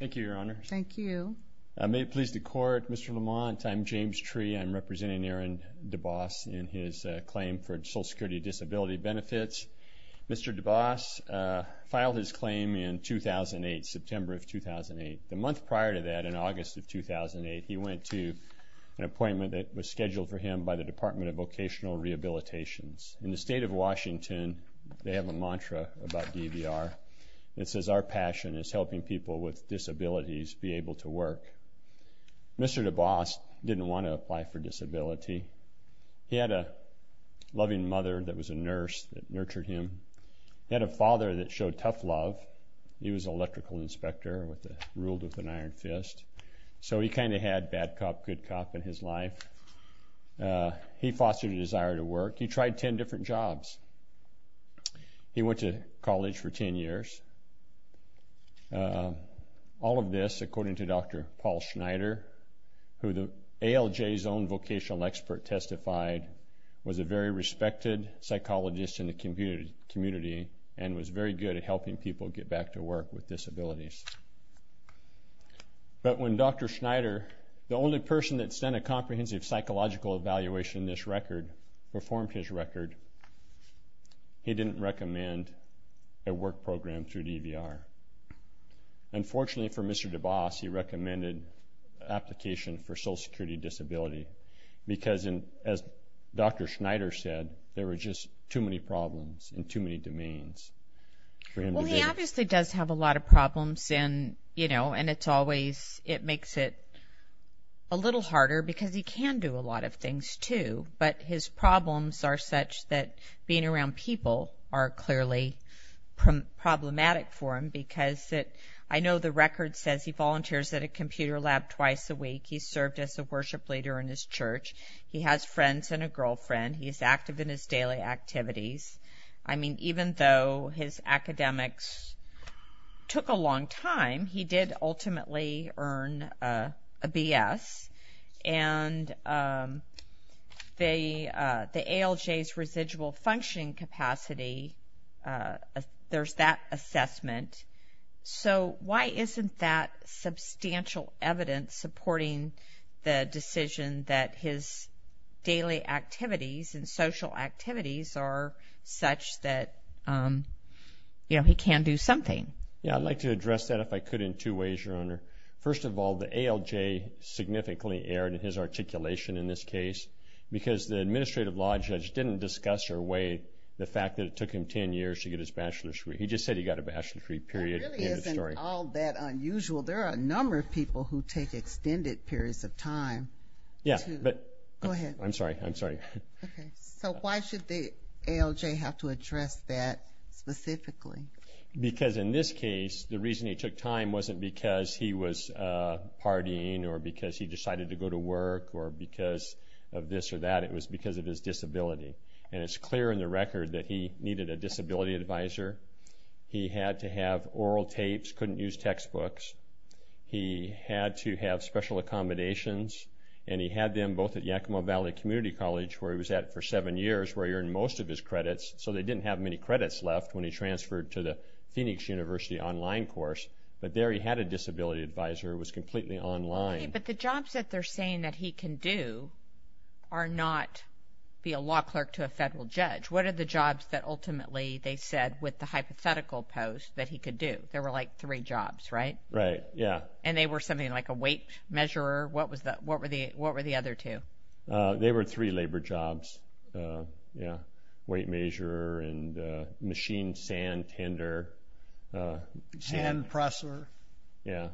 Thank you, Your Honor. Thank you. May it please the Court, Mr. Lamont, I'm James Tree. I'm representing Aaron Dubois in his claim for Social Security Disability Benefits. Mr. Dubois filed his claim in 2008, September of 2008. The month prior to that, in August of 2008, he went to an appointment that was scheduled for him by the Department of Vocational Rehabilitations. In the state of Washington, they have a mantra about DVR. It says, our passion is helping people with disabilities be able to work. Mr. Dubois didn't want to apply for disability. He had a loving mother that was a nurse that nurtured him. He had a father that showed tough love. He was an electrical inspector, ruled with an iron fist. So he kind of had bad cop, good cop in his life. He fostered a desire to all of this, according to Dr. Paul Schneider, who the ALJ's own vocational expert testified, was a very respected psychologist in the community and was very good at helping people get back to work with disabilities. But when Dr. Schneider, the only person that sent a comprehensive psychological evaluation to this record, performed his record, he didn't recommend a work program through fortunately for Mr. Dubois, he recommended an application for social security disability. Because, as Dr. Schneider said, there were just too many problems in too many domains. Well, he obviously does have a lot of problems and, you know, and it's always, it makes it a little harder because he can do a lot of things too. But his problems are such that being around people are clearly problematic for him because I know the record says he volunteers at a computer lab twice a week. He served as a worship leader in his church. He has friends and a girlfriend. He is active in his daily activities. I mean, even though his academics took a long time, he did ultimately earn a BS. And the ALJ's So why isn't that substantial evidence supporting the decision that his daily activities and social activities are such that, you know, he can do something? Yeah, I'd like to address that if I could in two ways, Your Honor. First of all, the ALJ significantly erred in his articulation in this case, because the administrative law judge didn't discuss or weigh the fact that it took him 10 years to get his bachelor's degree. He just said he got a bachelor's degree period. That really isn't all that unusual. There are a number of people who take extended periods of time. Yeah, but Go ahead. I'm sorry. I'm sorry. Okay. So why should the ALJ have to address that specifically? Because in this case, the reason he took time wasn't because he was partying or because he decided to go to work or because of this or that. It was because of his disability. And it's clear in the record that he needed a disability advisor. He had to have oral tapes, couldn't use textbooks. He had to have special accommodations. And he had them both at Yakima Valley Community College, where he was at for seven years, where he earned most of his credits. So they didn't have many credits left when he transferred to the Phoenix University online course. But there he had a disability advisor who was completely online. But the jobs that they're saying that he can do are not be a law clerk to a federal judge. What are the jobs that ultimately they said with the hypothetical post that he could do? There were like three jobs, right? Right. Yeah. And they were something like a weight measurer. What was that? What were the what were the other two? They were three labor jobs. Yeah, weight measure and machine sand tender. Sand presser. Yeah,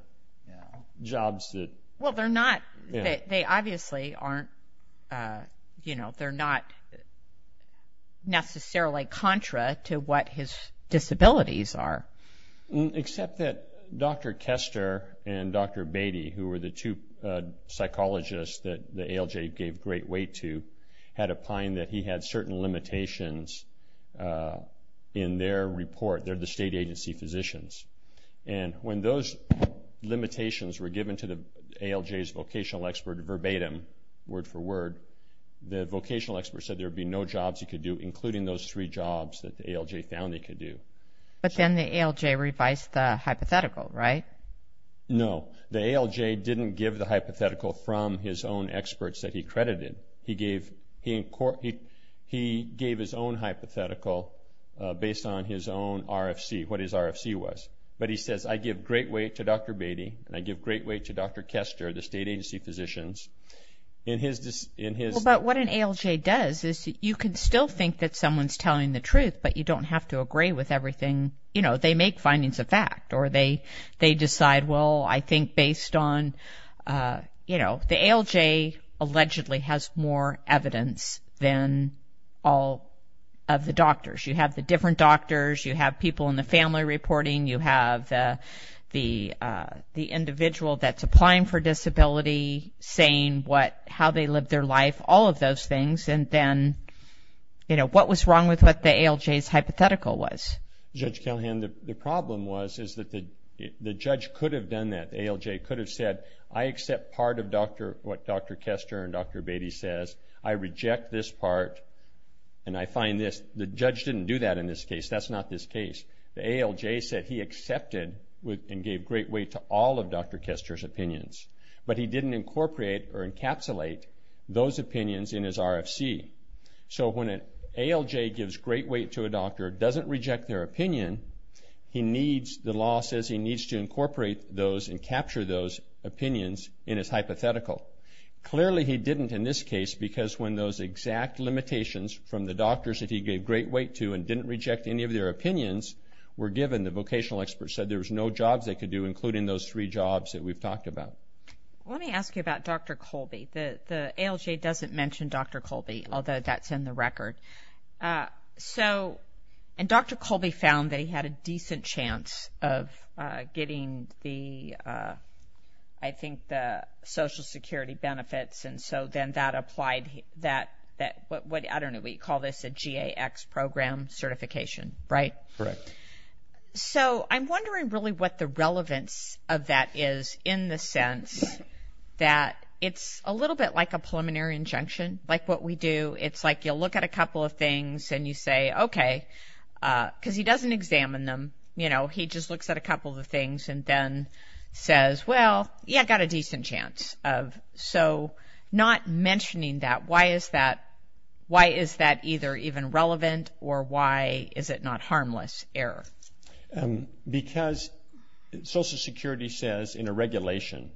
jobs that... Well, they're not, they obviously aren't, you know, they're not necessarily contra to what his disabilities are. Except that Dr. Kester and Dr. Beatty, who were the two psychologists that the ALJ gave great weight to, had opined that he had certain limitations in their report. They're the state agency physicians. And when those limitations were given to the ALJ's vocational expert verbatim, word for word, the vocational expert said there'd be no jobs he could do, including those three jobs that the ALJ found he could do. But then the ALJ revised the hypothetical, right? No, the ALJ didn't give the hypothetical from his own experts that he his own RFC, what his RFC was. But he says, I give great weight to Dr. Beatty, and I give great weight to Dr. Kester, the state agency physicians, in his, in his... But what an ALJ does is you can still think that someone's telling the truth, but you don't have to agree with everything. You know, they make findings of fact, or they, they decide, well, I think based on, you know, the ALJ allegedly has more evidence than all of the doctors. You have the different doctors, you have people in the family reporting, you have the, the, the individual that's applying for disability saying what, how they lived their life, all of those things. And then, you know, what was wrong with what the ALJ's hypothetical was? Judge Callahan, the problem was, is that the, the judge could have done that. The ALJ could have said, I accept part of Dr., what Dr. Kester and Dr. Beatty says, I reject this part. And I find this, the judge didn't do that in this case. That's not this case. The ALJ said he accepted with, and gave great weight to all of Dr. Kester's opinions, but he didn't incorporate or encapsulate those opinions in his RFC. So when an ALJ gives great weight to a doctor, doesn't reject their opinion, he needs, the law says he needs to incorporate those and capture those opinions in his hypothetical. Clearly, he didn't in this case, because when those exact limitations from the doctors that he gave great weight to and didn't reject any of their opinions were given, the vocational experts said there was no jobs they could do, including those three jobs that we've talked about. Let me ask you about Dr. Colby. The, the ALJ doesn't mention Dr. Colby, although that's in the record. So, and Dr. Colby found that he had a decent chance of getting the, I think the social security benefits. And so then that applied that, that, what, what, I don't know what you call this, a GAX program certification, right? Correct. So I'm wondering really what the relevance of that is in the sense that it's a little bit like a preliminary injunction, like what we do. It's like, you'll look at a couple of things and you say, okay, cause he doesn't examine them. You know, he just looks at a couple of the things and then says, well, yeah, I got a So not mentioning that, why is that, why is that either even relevant or why is it not harmless error? Because social security says in a regulation,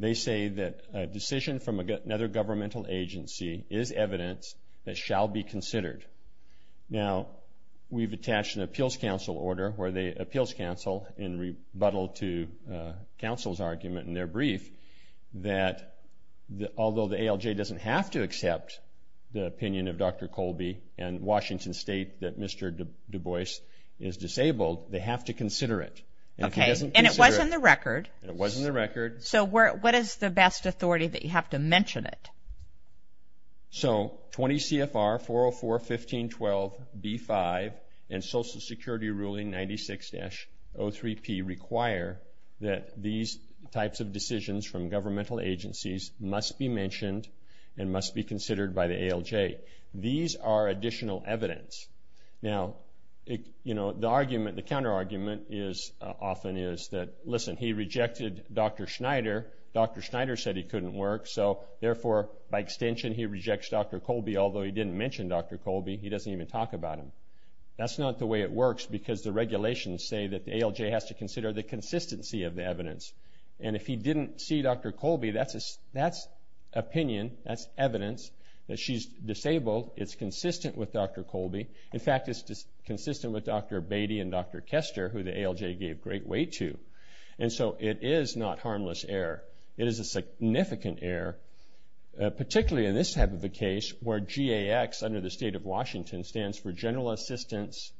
they say that a decision from another governmental agency is evidence that shall be considered. Now we've attached an appeals counsel order where the appeals counsel in rebuttal to a counsel's argument in their brief that the, although the ALJ doesn't have to accept the opinion of Dr. Colby and Washington state that Mr. Du Bois is disabled, they have to consider it. Okay. And it wasn't the record. It wasn't the record. So what is the best authority that you have to mention it? So 20 CFR 404.15.12.B5 and social security ruling 96-03P require that these types of decisions from governmental agencies must be mentioned and must be considered by the ALJ. These are additional evidence. Now, you know, the argument, the counter argument is often is that, listen, he rejected Dr. Schneider. Dr. Schneider said he couldn't work. So therefore, by extension, he rejects Dr. Colby, although he didn't mention Dr. Colby. He doesn't even talk about him. That's not the way it works because the regulations say that the ALJ has to consider the consistency of the evidence. And if he didn't see Dr. Colby, that's opinion, that's evidence that she's disabled. It's consistent with Dr. Colby. In fact, it's consistent with Dr. Beatty and Dr. Kester, who the ALJ gave great weight to. And so it is not harmless error. It is a significant error, particularly in this type of a case where GAX, under the state of Washington, stands for general assistance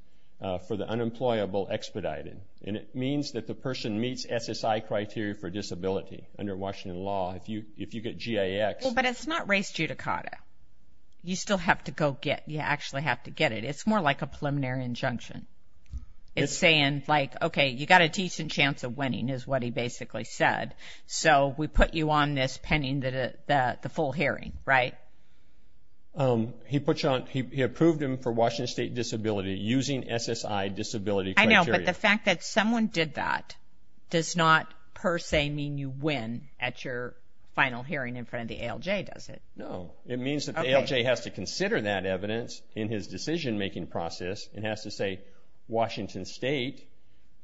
for the unemployable expedited. And it means that the person meets SSI criteria for disability under Washington law, if you, if you get GAX. But it's not race judicata. You still have to go get, you actually have to get it. It's more like a preliminary injunction. It's saying like, okay, you got a decent chance of winning is what he basically said. So we put you on this pending the, the, the full hearing, right? Um, he put you on, he approved him for Washington state disability using SSI disability. I know, but the fact that someone did that does not per se mean you win at your final hearing in front of the ALJ, does it? No, it means that the ALJ has to consider that evidence in his decision-making process and has to say, Washington state,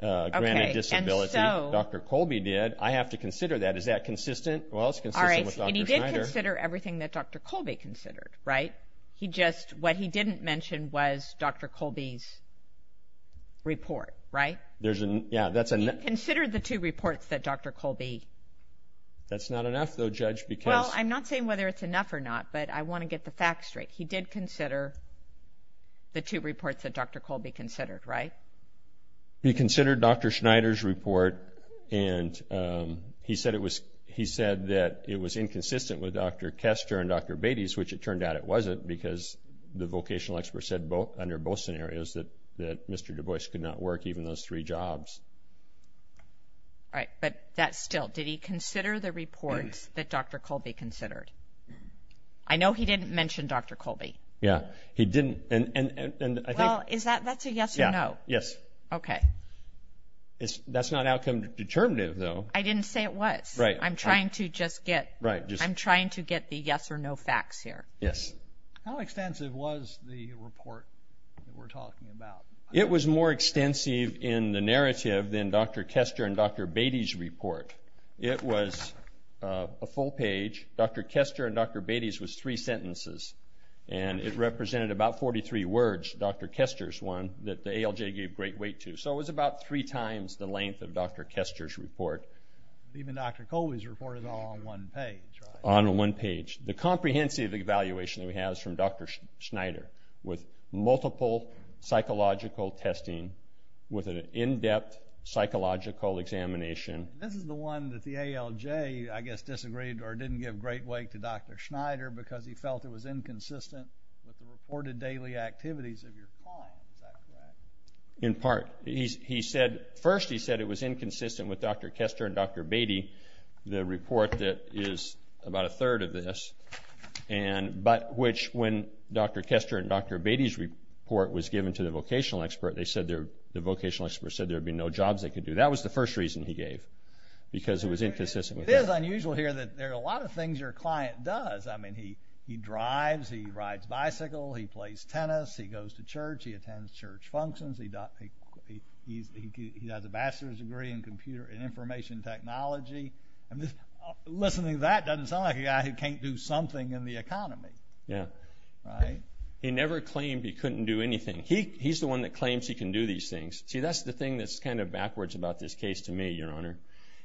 uh, granted disability, Dr. Colby did. I have to consider that. Is that consistent? Well, it's consistent with Dr. Schneider. And he did consider everything that Dr. Colby considered, right? He just, what he didn't mention was Dr. Colby's report, right? There's a, yeah, that's a. He considered the two reports that Dr. Colby. That's not enough though, judge, because. Well, I'm not saying whether it's enough or not, but I want to get the facts straight. He did consider the two reports that Dr. Colby considered, right? He considered Dr. Schneider's report and, um, he said it was, he said that it was inconsistent with Dr. Kester and Dr. Beatty's, which it turned out it wasn't because the vocational expert said both under both scenarios that, that Mr. Dubois could not work even those three jobs. All right. But that's still, did he consider the reports that Dr. Colby considered? I know he didn't mention Dr. Colby. Yeah, he didn't. And, and, and, and I think, is that, that's a yes or no. Yes. Okay. It's, that's not outcome determinative though. I didn't say it was. Right. I'm trying to just get, I'm trying to get the yes or no facts here. Yes. How extensive was the report that we're talking about? It was more extensive in the narrative than Dr. Kester and Dr. Beatty's report. It was a full page. Dr. Kester and Dr. Beatty's was three sentences and it represented about 43 words. Dr. Kester's one that the ALJ gave great weight to. So it was about three times the length of Dr. Kester's report. Even Dr. Colby's report is all on one page. On one page. The comprehensive evaluation that we have is from Dr. Schneider with multiple psychological testing with an in-depth psychological examination. This is the one that the ALJ, I guess, disagreed or didn't give great weight to Dr. Schneider because he felt it was inconsistent with the reported daily activities of your client. Is that correct? In part. He said, first he said it was inconsistent with Dr. Kester and Dr. Beatty. The report that is about a third of this, but which when Dr. Kester and Dr. Beatty's report was given to the vocational expert, the vocational expert said there'd be no jobs they could do. That was the first reason he gave because it was inconsistent. It is unusual here that there are a lot of things your client does. I mean, he drives, he rides bicycle, he plays tennis, he goes to church, he attends church functions, he has a bachelor's degree in computer and information technology. I mean, listening to that doesn't sound like a guy who can't do something in the economy. Yeah. Right. He never claimed he couldn't do anything. He, he's the one that claims he can do these things. See, that's the thing that's kind of backwards about this case to me, your honor,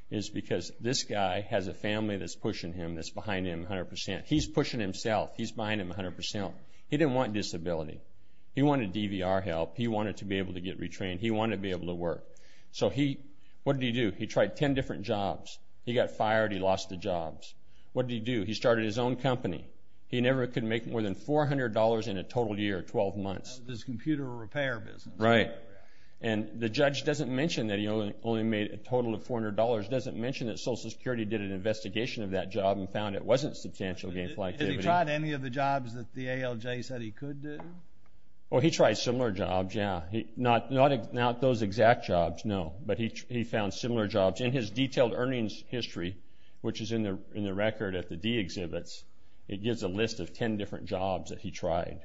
is because this guy has a family that's pushing him. That's behind him a hundred percent. He's pushing himself. He's behind him a hundred percent. He didn't want disability. He wanted DVR help. He wanted to be able to get retrained. He wanted to be able to work. So he, what did he do? He tried 10 different jobs. He got fired. He lost the jobs. What did he do? He started his own company. He never could make more than $400 in a total year, 12 months. This computer repair business. Right. And the judge doesn't mention that he only made a total of $400, doesn't mention that social security did an investigation of that job and found it wasn't substantial gainful activity. Has he tried any of the jobs that the ALJ said he could do? Well, he tried similar jobs. Yeah. He, not, not, not those exact jobs. No, but he, he found similar jobs in his detailed earnings history, which is in the, in the record at the D exhibits. It gives a list of 10 different jobs that he tried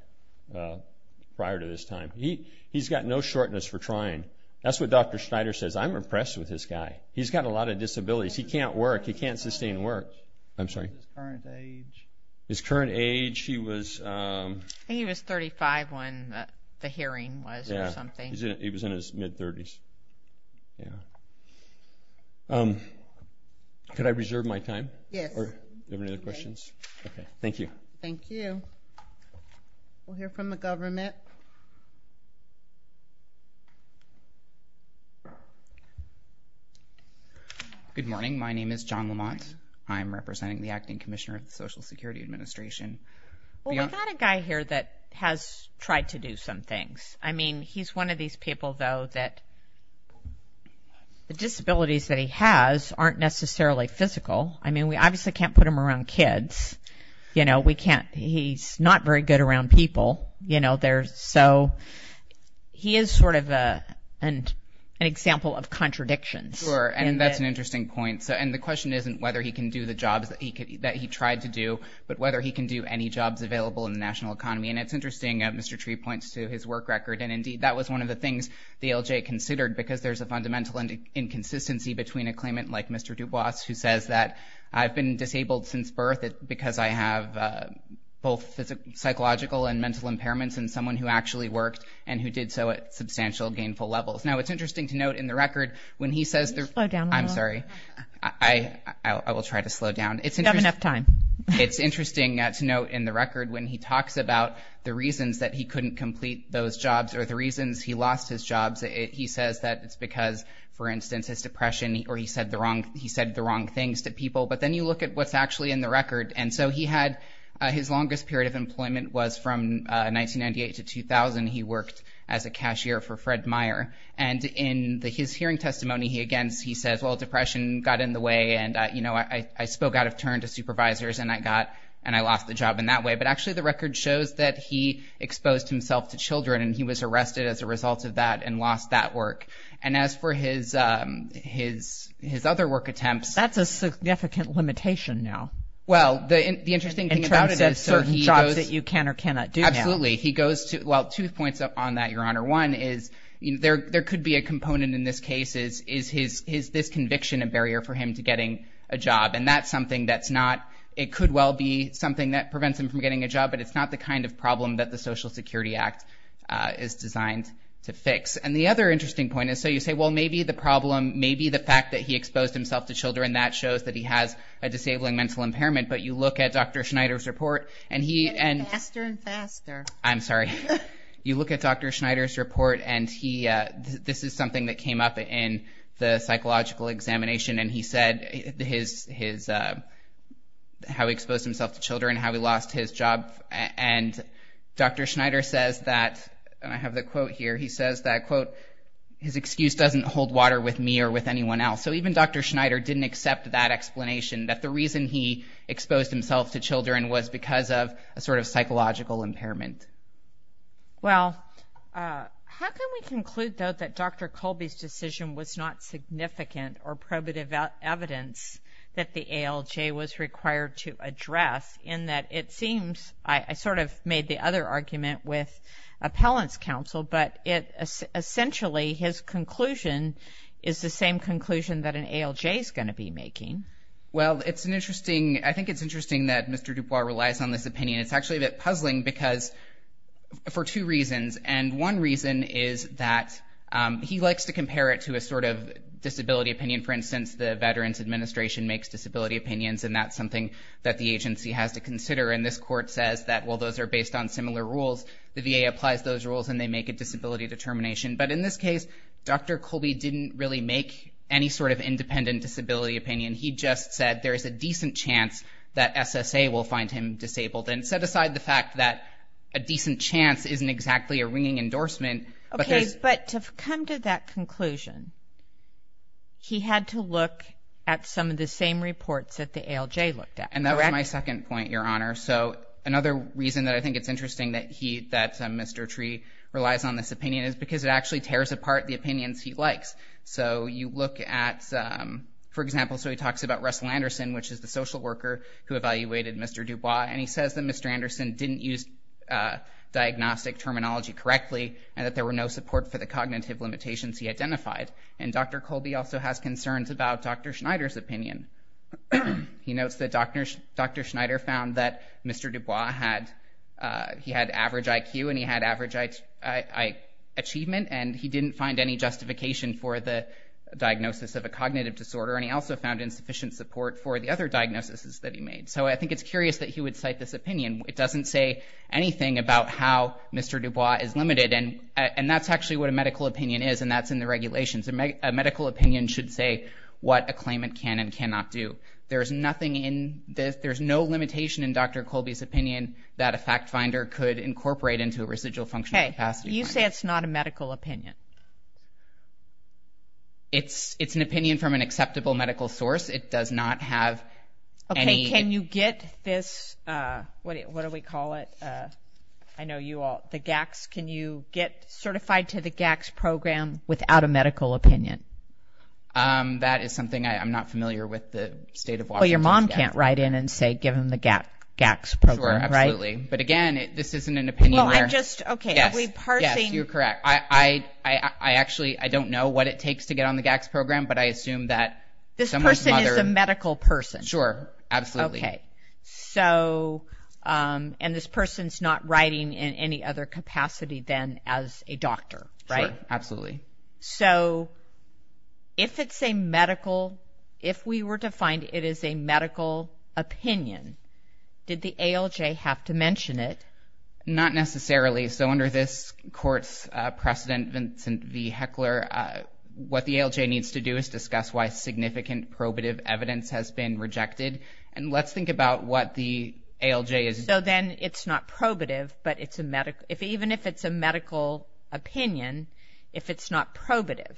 prior to this time. He, he's got no shortness for trying. That's what Dr. Schneider says. I'm impressed with this guy. He's got a lot of disabilities. He can't work. He can't sustain work. I'm sorry. His current age. His current age. He was, um, he was 35 when the hearing was or something. He was in his mid thirties. Yeah. Um, could I reserve my time or do you have any other questions? Okay. Thank you. Thank you. We'll hear from the government. Good morning. My name is John Lamont. I'm representing the acting commissioner of the social security administration. Well, we've got a guy here that has tried to do some things. I mean, he's one of these people though, that the disabilities that he has aren't necessarily physical. I mean, we obviously can't put him around kids, you know, we can't, he's not very good around people, you know, there's, so he is sort of a, an example of contradictions. Sure. And that's an interesting point. So, and the question isn't whether he can do the jobs that he could, that he tried to do, but whether he can do any jobs available in the national economy. And it's interesting, Mr. Tree points to his work record. And indeed that was one of the things the LJ considered because there's a fundamental inconsistency between a claimant like Mr. Dubois, who says that I've been disabled since birth because I have, uh, both psychological and mental impairments and someone who actually worked and who did so at substantial gainful levels. Now it's interesting to note in the record when he says there, I'm sorry. I, I will try to slow down. It's interesting enough time. It's interesting to note in the record, when he talks about the reasons that he couldn't complete those jobs or the reasons he lost his jobs, he says that it's because for instance, his depression, or he said the wrong, he said the wrong things to people, but then you look at what's actually in the record. And so he had, uh, his longest period of employment was from, uh, 1998 to 2000. He worked as a cashier for Fred Meyer. And in the, his hearing testimony, he, against, he says, well, depression got in the way and, uh, you know, I, I spoke out of turn to supervisors and I got, and I lost the job in that way, but actually the record shows that he exposed himself to children and he was arrested as a result of that and lost that work. And as for his, um, his, his other work attempts, that's a significant limitation now, well, the interesting thing about it is certain jobs that you can or cannot do. Absolutely. He goes to, well, two points on that. Your honor one is there, there could be a component in this case is, is his, his, his conviction, a barrier for him to getting a job. And that's something that's not, it could well be something that prevents him from getting a job, but it's not the kind of problem that the social security act, uh, is designed to fix. And the other interesting point is, so you say, well, maybe the problem, maybe the fact that he exposed himself to children, that shows that he has a disabling mental impairment, but you look at Dr. Schneider's report and he, and faster and faster, I'm sorry. You look at Dr. Schneider's report and he, uh, this is something that came up in the psychological examination and he said his, his, uh, how he exposed himself to children, how he lost his job. And Dr. Schneider says that, and I have the quote here. He says that quote, his excuse doesn't hold water with me or with anyone else. So even Dr. Schneider didn't accept that explanation that the reason he exposed himself to children was because of a sort of psychological impairment. Well, uh, how can we conclude though, that Dr. Schneider didn't have significant or probative evidence that the ALJ was required to address in that it seems, I sort of made the other argument with appellant's counsel, but it essentially, his conclusion is the same conclusion that an ALJ is going to be making. Well, it's an interesting, I think it's interesting that Mr. DuBois relies on this opinion. It's actually a bit puzzling because for two reasons, and one reason is that, um, he likes to compare it to a sort of disability opinion. For instance, the Veterans Administration makes disability opinions and that's something that the agency has to consider. And this court says that, well, those are based on similar rules. The VA applies those rules and they make a disability determination. But in this case, Dr. Colby didn't really make any sort of independent disability opinion. He just said there is a decent chance that SSA will find him disabled and set aside the fact that a decent chance isn't exactly a ringing endorsement. Okay, but to come to that conclusion, he had to look at some of the same reports that the ALJ looked at. And that was my second point, Your Honor. So another reason that I think it's interesting that he, that Mr. Tree relies on this opinion is because it actually tears apart the opinions he likes. So you look at, um, for example, so he talks about Russell Anderson, which is the social worker who evaluated Mr. DuBois, and he says that Mr. correctly and that there were no support for the cognitive limitations he identified. And Dr. Colby also has concerns about Dr. Schneider's opinion. He notes that Dr. Dr. Schneider found that Mr. DuBois had, uh, he had average IQ and he had average I, I, I achievement and he didn't find any justification for the diagnosis of a cognitive disorder. And he also found insufficient support for the other diagnoses that he made. So I think it's curious that he would cite this opinion. It doesn't say anything about how Mr. DuBois is limited. And, uh, and that's actually what a medical opinion is. And that's in the regulations. A medical opinion should say what a claimant can and cannot do. There's nothing in this, there's no limitation in Dr. Colby's opinion that a fact finder could incorporate into a residual functional capacity. You say it's not a medical opinion. It's, it's an opinion from an acceptable medical source. It does not have any. Can you get this? Uh, what, what do we call it? Uh, I know you all, the GACs, can you get certified to the GACs program without a medical opinion? Um, that is something I, I'm not familiar with the state of Washington. Well, your mom can't write in and say, give him the GAC, GACs program, right? But again, this isn't an opinion. Well, I'm just, okay. Are we parsing? You're correct. I, I, I, I actually, I don't know what it takes to get on the GACs program, but I assume that someone's mother. This person is a medical person. Sure. Absolutely. Okay. So, um, and this person's not writing in any other capacity than as a doctor, right? Absolutely. So if it's a medical, if we were to find it is a medical opinion, did the ALJ have to mention it? Not necessarily. So under this court's, uh, precedent, Vincent V. Heckler, uh, what the ALJ needs to do is discuss why significant probative evidence has been rejected. And let's think about what the ALJ is. So then it's not probative, but it's a medical, if even if it's a medical opinion, if it's not probative.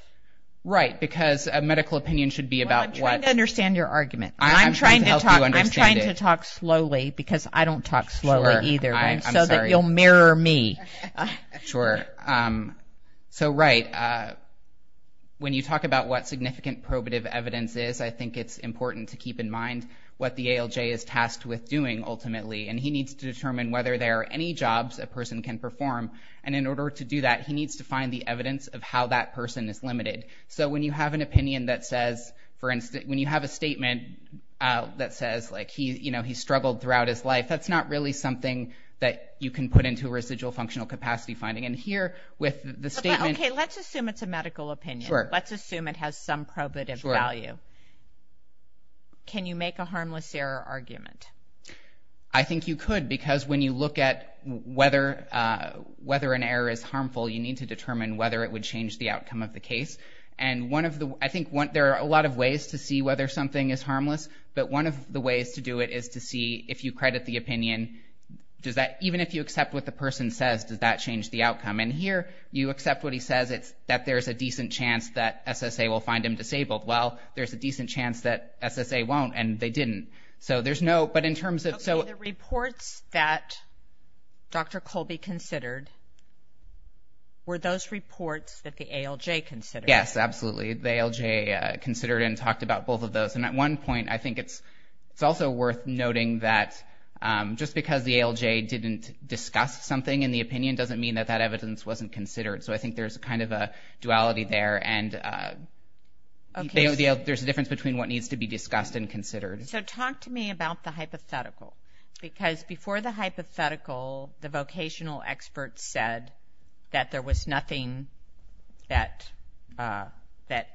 Right. Because a medical opinion should be about what? I'm trying to understand your argument. I'm trying to talk, I'm trying to talk slowly because I don't talk slowly either. I'm sorry. You'll mirror me. Sure. Um, so right. Uh, when you talk about what significant probative evidence is, I think it's important to keep in mind what the ALJ is tasked with doing ultimately. And he needs to determine whether there are any jobs a person can perform. And in order to do that, he needs to find the evidence of how that person is limited. So when you have an opinion that says, for instance, when you have a statement, uh, that says like he, you know, he struggled throughout his life, that's not really something that you can put into a residual functional capacity finding. And here with the statement. Okay. Let's assume it's a medical opinion. Let's assume it has some probative value. Can you make a harmless error argument? I think you could, because when you look at whether, uh, whether an error is harmful, you need to determine whether it would change the outcome of the case. And one of the, I think one, there are a lot of ways to see whether something is harmless, but one of the ways to do it is to see if you credit the opinion. Does that, even if you accept what the person says, does that change the outcome in here? You accept what he says. It's that there's a decent chance that SSA will find him disabled. Well, there's a decent chance that SSA won't and they didn't. So there's no, but in terms of, so the reports that Dr. Colby considered were those reports that the ALJ considered. Yes, absolutely. The ALJ, uh, considered and talked about both of those. And at one point, I think it's, it's also worth noting that, um, just because the ALJ didn't discuss something in the opinion doesn't mean that that evidence wasn't considered. So I think there's a kind of a duality there and, uh, there's a difference between what needs to be discussed and considered. So talk to me about the hypothetical, because before the hypothetical, the vocational experts said that there was nothing that, uh, that,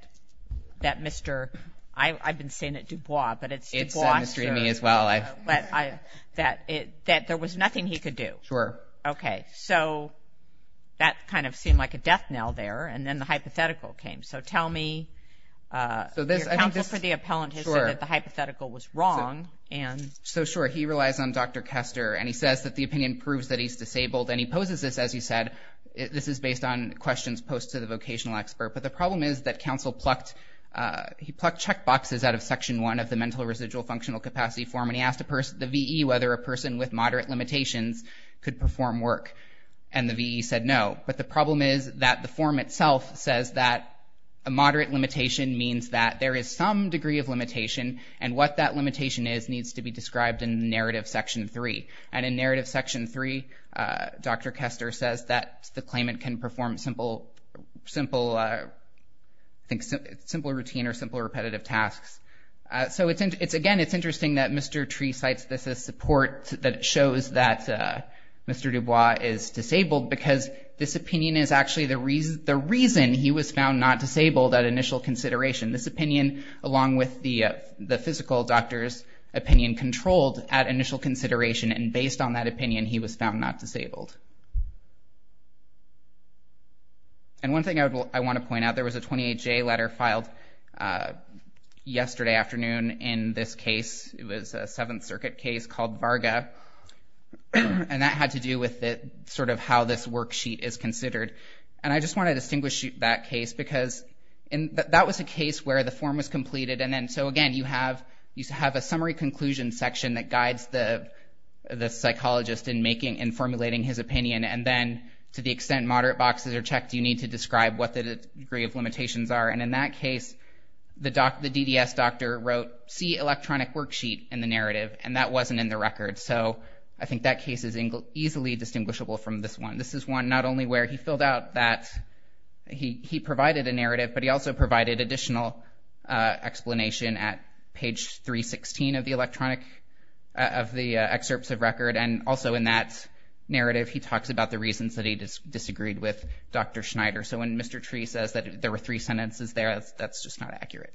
that Mr., I, I've been saying it Dubois, but it's Dubois, that it, that there was nothing he could do. Sure. Okay. So that kind of seemed like a death knell there. And then the hypothetical came. So tell me, uh, your counsel for the appellant has said that the hypothetical was wrong and. So sure. He relies on Dr. Kester and he says that the opinion proves that he's disabled. And he poses this, as you said, this is based on questions post to the vocational expert. But the problem is that counsel plucked, uh, he plucked check boxes out of section one of the mental residual functional capacity form. And he asked the person, the VE, whether a person with moderate limitations could perform work. And the VE said, no, but the problem is that the form itself says that a moderate limitation means that there is some degree of limitation and what that limitation is needs to be described in narrative section three. And in narrative section three, uh, Dr. Kester says that the claimant can perform simple, simple, uh, I think simple routine or simple repetitive tasks. Uh, so it's, it's, again, it's interesting that Mr. Tree cites this as support that shows that, uh, Mr. Dubois is disabled because this opinion is actually the reason, the reason he was found not disabled at initial consideration. This opinion, along with the, uh, the physical doctor's opinion controlled at initial consideration. And based on that opinion, he was found not disabled. And one thing I would, I want to point out, there was a 28 J letter filed, uh, yesterday afternoon in this case. It was a seventh circuit case called Varga. And that had to do with the sort of how this worksheet is considered. And I just want to distinguish that case because that was a case where the form was completed. And then, so again, you have, you have a summary conclusion section that guides the, the psychologist in making, in formulating his opinion. And then to the extent moderate boxes are checked, you need to describe what the degree of limitations are. And in that case, the doc, the DDS doctor wrote C electronic worksheet in the narrative, and that wasn't in the record. So I think that case is easily distinguishable from this one. This is one, not only where he filled out that he, he provided a narrative, but he also provided additional, uh, explanation at page three 16 of the electronic, uh, of the excerpts of record. And also in that narrative, he talks about the reasons that he disagreed with Dr. Schneider. So when Mr. Tree says that there were three sentences there, that's, that's just not accurate.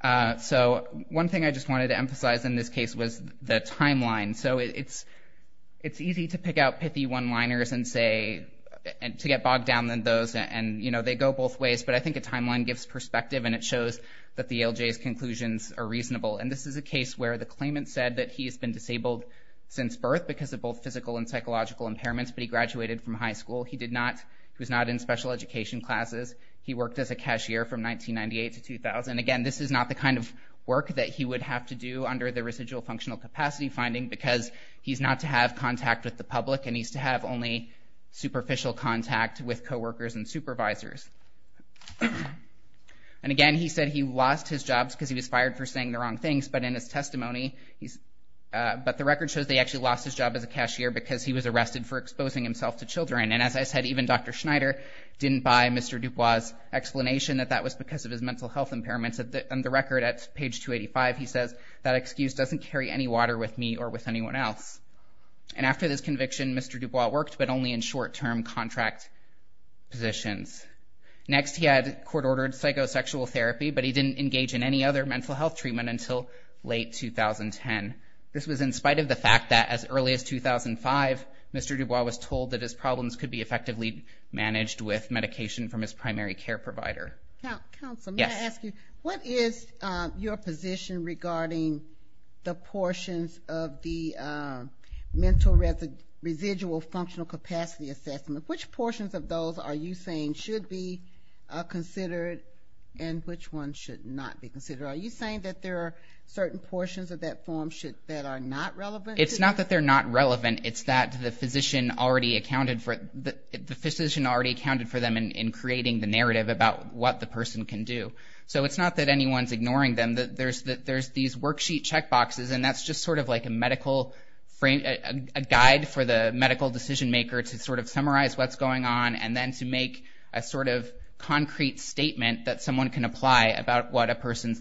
Uh, so one thing I just wanted to emphasize in this case was the timeline. So it's, it's easy to pick out pithy one-liners and say, and to get bogged down than those. And, you know, they go both ways, but I think a timeline gives perspective and it shows that the ALJ's conclusions are reasonable. And this is a case where the claimant said that he has been disabled since birth because of both physical and psychological impairments, but he graduated from high school. He did not, he was not in special education classes. He worked as a cashier from 1998 to 2000. Again, this is not the kind of work that he would have to do under the residual functional capacity finding because he's not to have contact with the public and he's to have only superficial contact with coworkers and supervisors. Uh, but the record shows they actually lost his job as a cashier because he was arrested for exposing himself to children. And as I said, even Dr. Schneider didn't buy Mr. Dubois' explanation that that was because of his mental health impairments. At the, on the record at page 285, he says that excuse doesn't carry any water with me or with anyone else. And after this conviction, Mr. Dubois worked, but only in short term contract positions. Next he had court ordered psychosexual therapy, but he didn't engage in any other mental health treatment until late 2010. This was in spite of the fact that as early as 2005, Mr. Dubois was told that his problems could be effectively managed with medication from his primary care provider. Now, counsel, may I ask you, what is your position regarding the portions of the mental residual functional capacity assessment? Which portions of those are you saying should be considered and which ones should not be considered? Are you saying that there are certain portions of that form that are not relevant? It's not that they're not relevant. It's that the physician already accounted for, the physician already accounted for them in creating the narrative about what the person can do. So it's not that anyone's ignoring them. There's these worksheet checkboxes and that's just sort of like a medical frame, a guide for the medical decision maker to sort of summarize what's going on and then to what the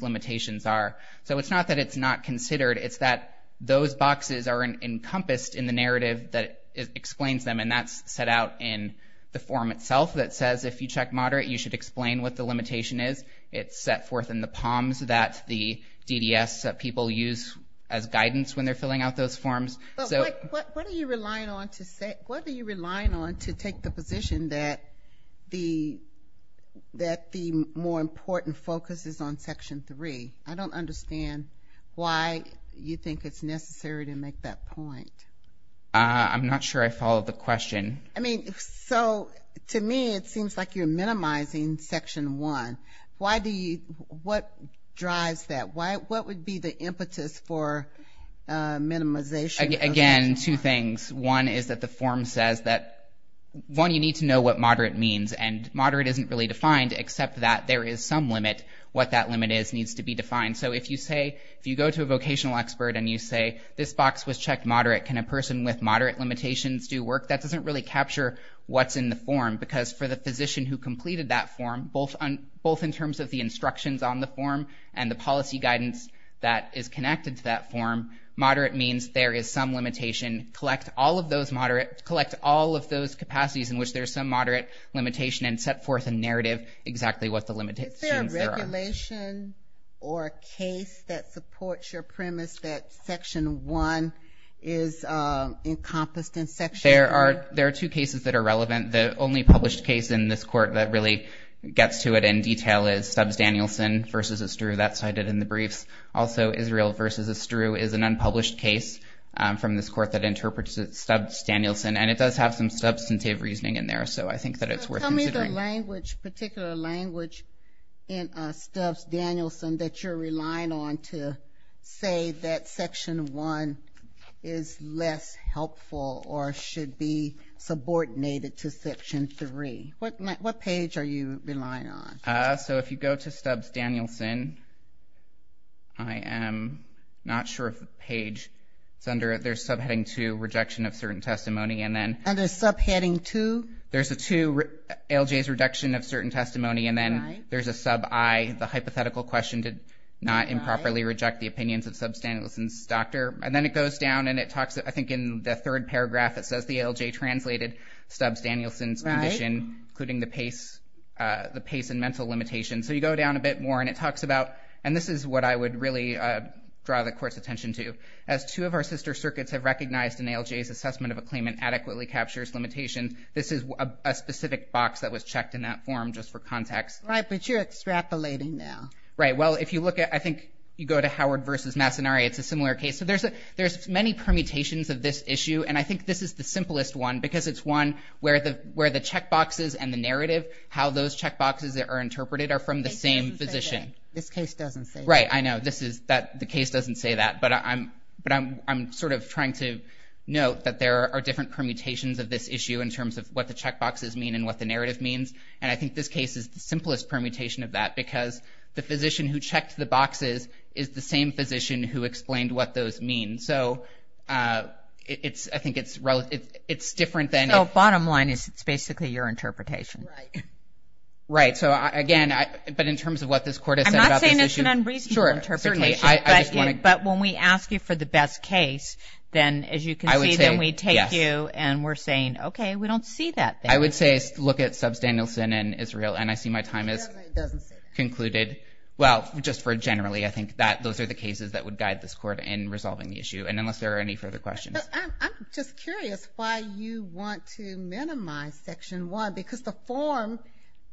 limitations are. So it's not that it's not considered. It's that those boxes are encompassed in the narrative that explains them. And that's set out in the form itself that says, if you check moderate, you should explain what the limitation is. It's set forth in the POMS that the DDS people use as guidance when they're filling out those forms. So what are you relying on to take the position that the more important focus is on I don't understand why you think it's necessary to make that point. I'm not sure I followed the question. I mean, so to me, it seems like you're minimizing Section 1. Why do you, what drives that? Why, what would be the impetus for minimization? Again, two things. One is that the form says that, one, you need to know what moderate means and moderate isn't really defined, except that there is some limit. What that limit is needs to be defined. So if you say, if you go to a vocational expert and you say, this box was checked moderate, can a person with moderate limitations do work? That doesn't really capture what's in the form because for the physician who completed that form, both in terms of the instructions on the form and the policy guidance that is connected to that form, moderate means there is some limitation. Collect all of those moderate, collect all of those capacities in which there's some moderate limitation and set forth a narrative exactly what the limitations are. Is there a regulation or a case that supports your premise that Section 1 is encompassed in Section 1? There are two cases that are relevant. The only published case in this court that really gets to it in detail is Stubbs Danielson versus Estrue. That's cited in the briefs. Also, Israel versus Estrue is an unpublished case from this court that interprets it as Stubbs Danielson. And it does have some substantive reasoning in there. So I think that it's worth considering. Is there a particular language in Stubbs Danielson that you're relying on to say that Section 1 is less helpful or should be subordinated to Section 3? What page are you relying on? So if you go to Stubbs Danielson, I am not sure if the page is under it. There's subheading 2, Rejection of Certain Testimony. Under subheading 2? There's a 2, ALJ's Reduction of Certain Testimony. And then there's a sub I, the Hypothetical Question, Did Not Improperly Reject the Opinions of Stubbs Danielson's Doctor. And then it goes down and it talks, I think in the third paragraph, it says the ALJ translated Stubbs Danielson's condition, including the pace and mental limitations. So you go down a bit more and it talks about, and this is what I would really draw the court's attention to, as two of our sister circuits have recognized an ALJ's adequately captures limitations. This is a specific box that was checked in that form just for context. Right. But you're extrapolating now. Right. Well, if you look at, I think you go to Howard v. Massanari, it's a similar case. So there's many permutations of this issue. And I think this is the simplest one because it's one where the checkboxes and the narrative, how those checkboxes are interpreted are from the same physician. This case doesn't say that. Right. I know. This is that the case doesn't say that, but I'm sort of trying to note that there are different permutations of this issue in terms of what the checkboxes mean and what the narrative means. And I think this case is the simplest permutation of that because the physician who checked the boxes is the same physician who explained what those mean. So it's, I think it's relative, it's different than. So bottom line is it's basically your interpretation. Right. So again, but in terms of what this court has said about this issue. I'm not saying it's an unreasonable interpretation, but when we ask you for the best case, then as you can see, then we take you and we're saying, okay, we don't see that. I would say look at subs Danielson and Israel. And I see my time is concluded. Well, just for generally, I think that those are the cases that would guide this court in resolving the issue. And unless there are any further questions, I'm just curious why you want to minimize section one, because the form,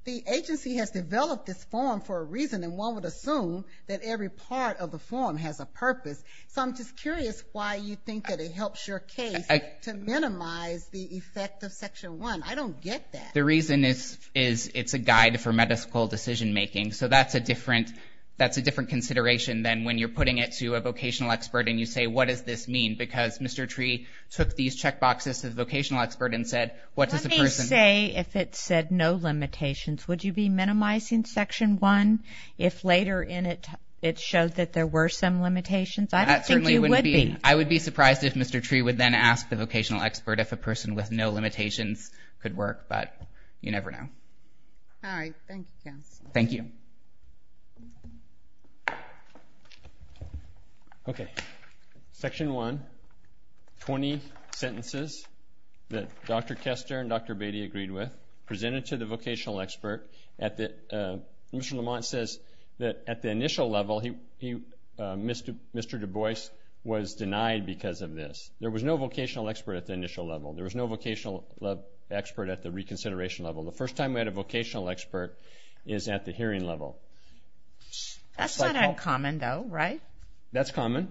the agency has developed this form for a reason. And one would assume that every part of the form has a purpose. So I'm just curious why you think that it helps your case to minimize the effect of section one. I don't get that. The reason is, is it's a guide for medical decision making. So that's a different, that's a different consideration than when you're putting it to a vocational expert and you say, what does this mean? Because Mr. Tree took these check boxes to the vocational expert and said, what does the person say? If it said no limitations, would you be minimizing section one? If later in it, it showed that there were some limitations, I don't think you would be. I would be surprised if Mr. Tree would then ask the vocational expert if a person with no limitations could work, but you never know. All right. Thank you, counsel. Thank you. Okay. Section one, 20 sentences that Dr. Kester and Dr. Beatty agreed with, presented to the vocational expert at the, Mr. Lamont says that at the initial level, Mr. Du Bois was denied because of this. There was no vocational expert at the initial level. There was no vocational expert at the reconsideration level. The first time we had a vocational expert is at the hearing level. That's not uncommon though, right? That's common.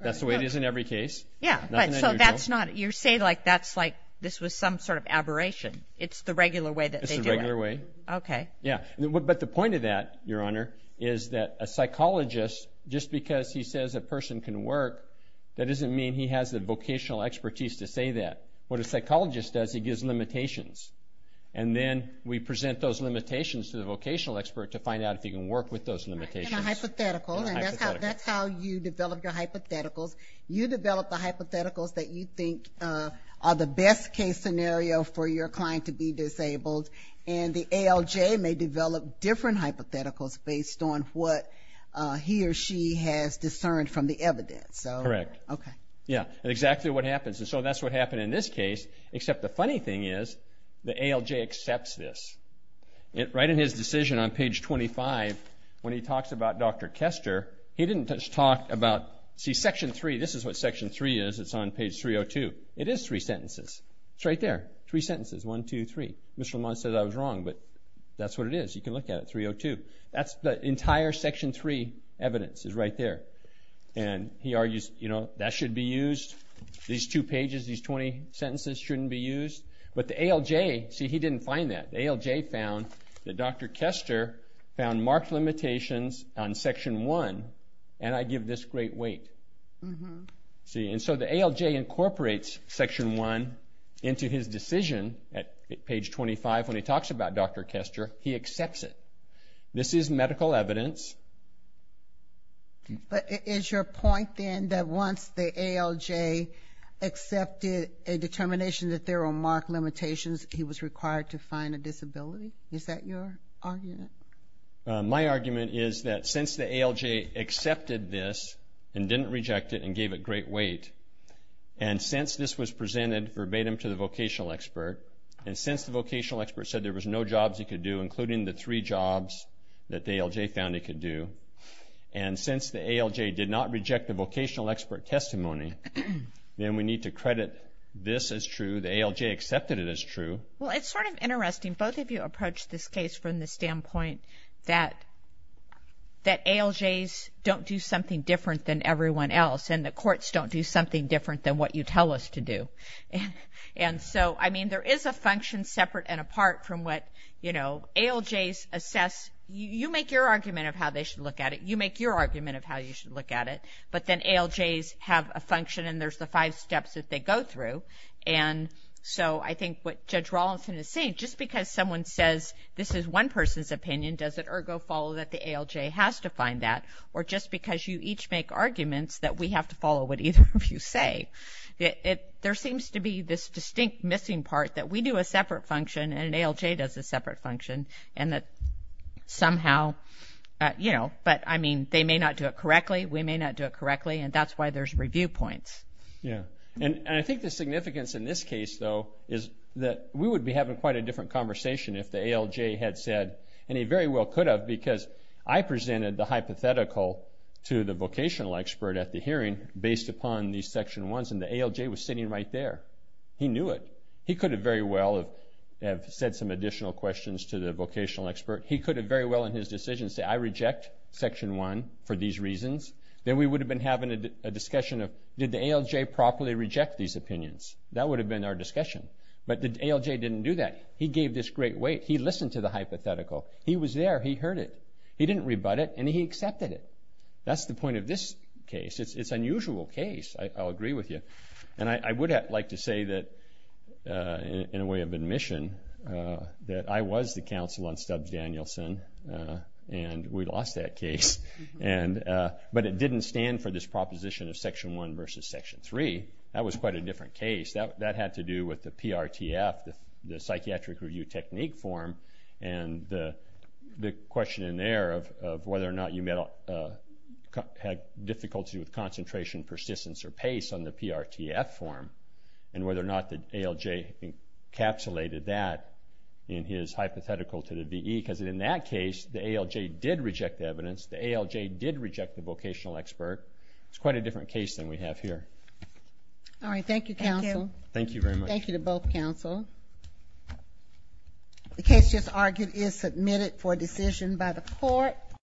That's the way it is in every case. Yeah. But so that's not, you're saying like, that's like, this was some sort of aberration. It's the regular way that they do it. It's the regular way. Okay. Yeah. But the point of that, Your Honor, is that a psychologist, just because he says a person can work, that doesn't mean he has the vocational expertise to say that. What a psychologist does, he gives limitations. And then we present those limitations to the vocational expert to find out if he can work with those limitations. And a hypothetical, and that's how you develop your hypotheticals. You develop the hypotheticals that you think are the best case scenario for your client to be disabled. And the ALJ may develop different hypotheticals based on what he or she has discerned from the evidence. So. Correct. Okay. Yeah. And exactly what happens. And so that's what happened in this case, except the funny thing is the ALJ accepts this. Right in his decision on page 25, when he talks about Dr. Kester, he didn't just talk about, see section three, this is what section three is. It's on page 302. It is three sentences. It's right there. Three sentences. One, two, three. Mr. Lamont said I was wrong, but that's what it is. You can look at it. 302. That's the entire section three evidence is right there. And he argues, you know, that should be used. These two pages, these 20 sentences shouldn't be used. But the ALJ, see, he didn't find that. ALJ found that Dr. Kester found marked limitations on section one. And I give this great weight. See, and so the ALJ incorporates section one into his decision at page 25, when he talks about Dr. Kester, he accepts it. This is medical evidence. But is your point then that once the ALJ accepted a determination that there were marked limitations, he was required to find a disability? Is that your argument? My argument is that since the ALJ accepted this and didn't reject it and gave it great weight, and since this was presented verbatim to the vocational expert, and since the vocational expert said there was no jobs he could do, including the three jobs that the ALJ found he could do, and since the ALJ did not reject the vocational expert testimony, then we need to credit this as true, the ALJ accepted it as true. Well, it's sort of interesting. Both of you approached this case from the standpoint that ALJs don't do something different than everyone else. And the courts don't do something different than what you tell us to do. And so, I mean, there is a function separate and apart from what, you know, ALJs assess, you make your argument of how they should look at it, you make your argument of how you should look at it, but then ALJs have a function and there's the five steps that they go through. And so I think what Judge Rawlinson is saying, just because someone says this is one person's opinion, does it ergo follow that the ALJ has to find that? Or just because you each make arguments that we have to follow what either of us say, there seems to be this distinct missing part that we do a separate function and an ALJ does a separate function and that somehow, you know, but I mean, they may not do it correctly, we may not do it correctly, and that's why there's review points. Yeah. And I think the significance in this case, though, is that we would be having quite a different conversation if the ALJ had said, and he very well could have, because I presented the hypothetical to the vocational expert at the hearing based upon these section ones and the ALJ was sitting right there. He knew it. He could have very well have said some additional questions to the vocational expert. He could have very well in his decision say, I reject section one for these reasons. Then we would have been having a discussion of, did the ALJ properly reject these opinions? That would have been our discussion, but the ALJ didn't do that. He gave this great weight. He listened to the hypothetical. He was there. He heard it. He didn't rebut it and he accepted it. That's the point of this case. It's an unusual case. I'll agree with you. And I would like to say that, in a way of admission, that I was the counsel on Stubbs-Danielson and we lost that case, but it didn't stand for this proposition of section one versus section three. That was quite a different case. That had to do with the PRTF, the Psychiatric Review Technique form, and the question in there of whether or not you had difficulty with concentration, persistence, or pace on the PRTF form, and whether or not the ALJ encapsulated that in his hypothetical to the VE, because in that case, the ALJ did reject evidence. The ALJ did reject the vocational expert. It's quite a different case than we have here. All right. Thank you, counsel. Thank you very much. Thank you to both counsel. The case just argued is submitted for decision by the court.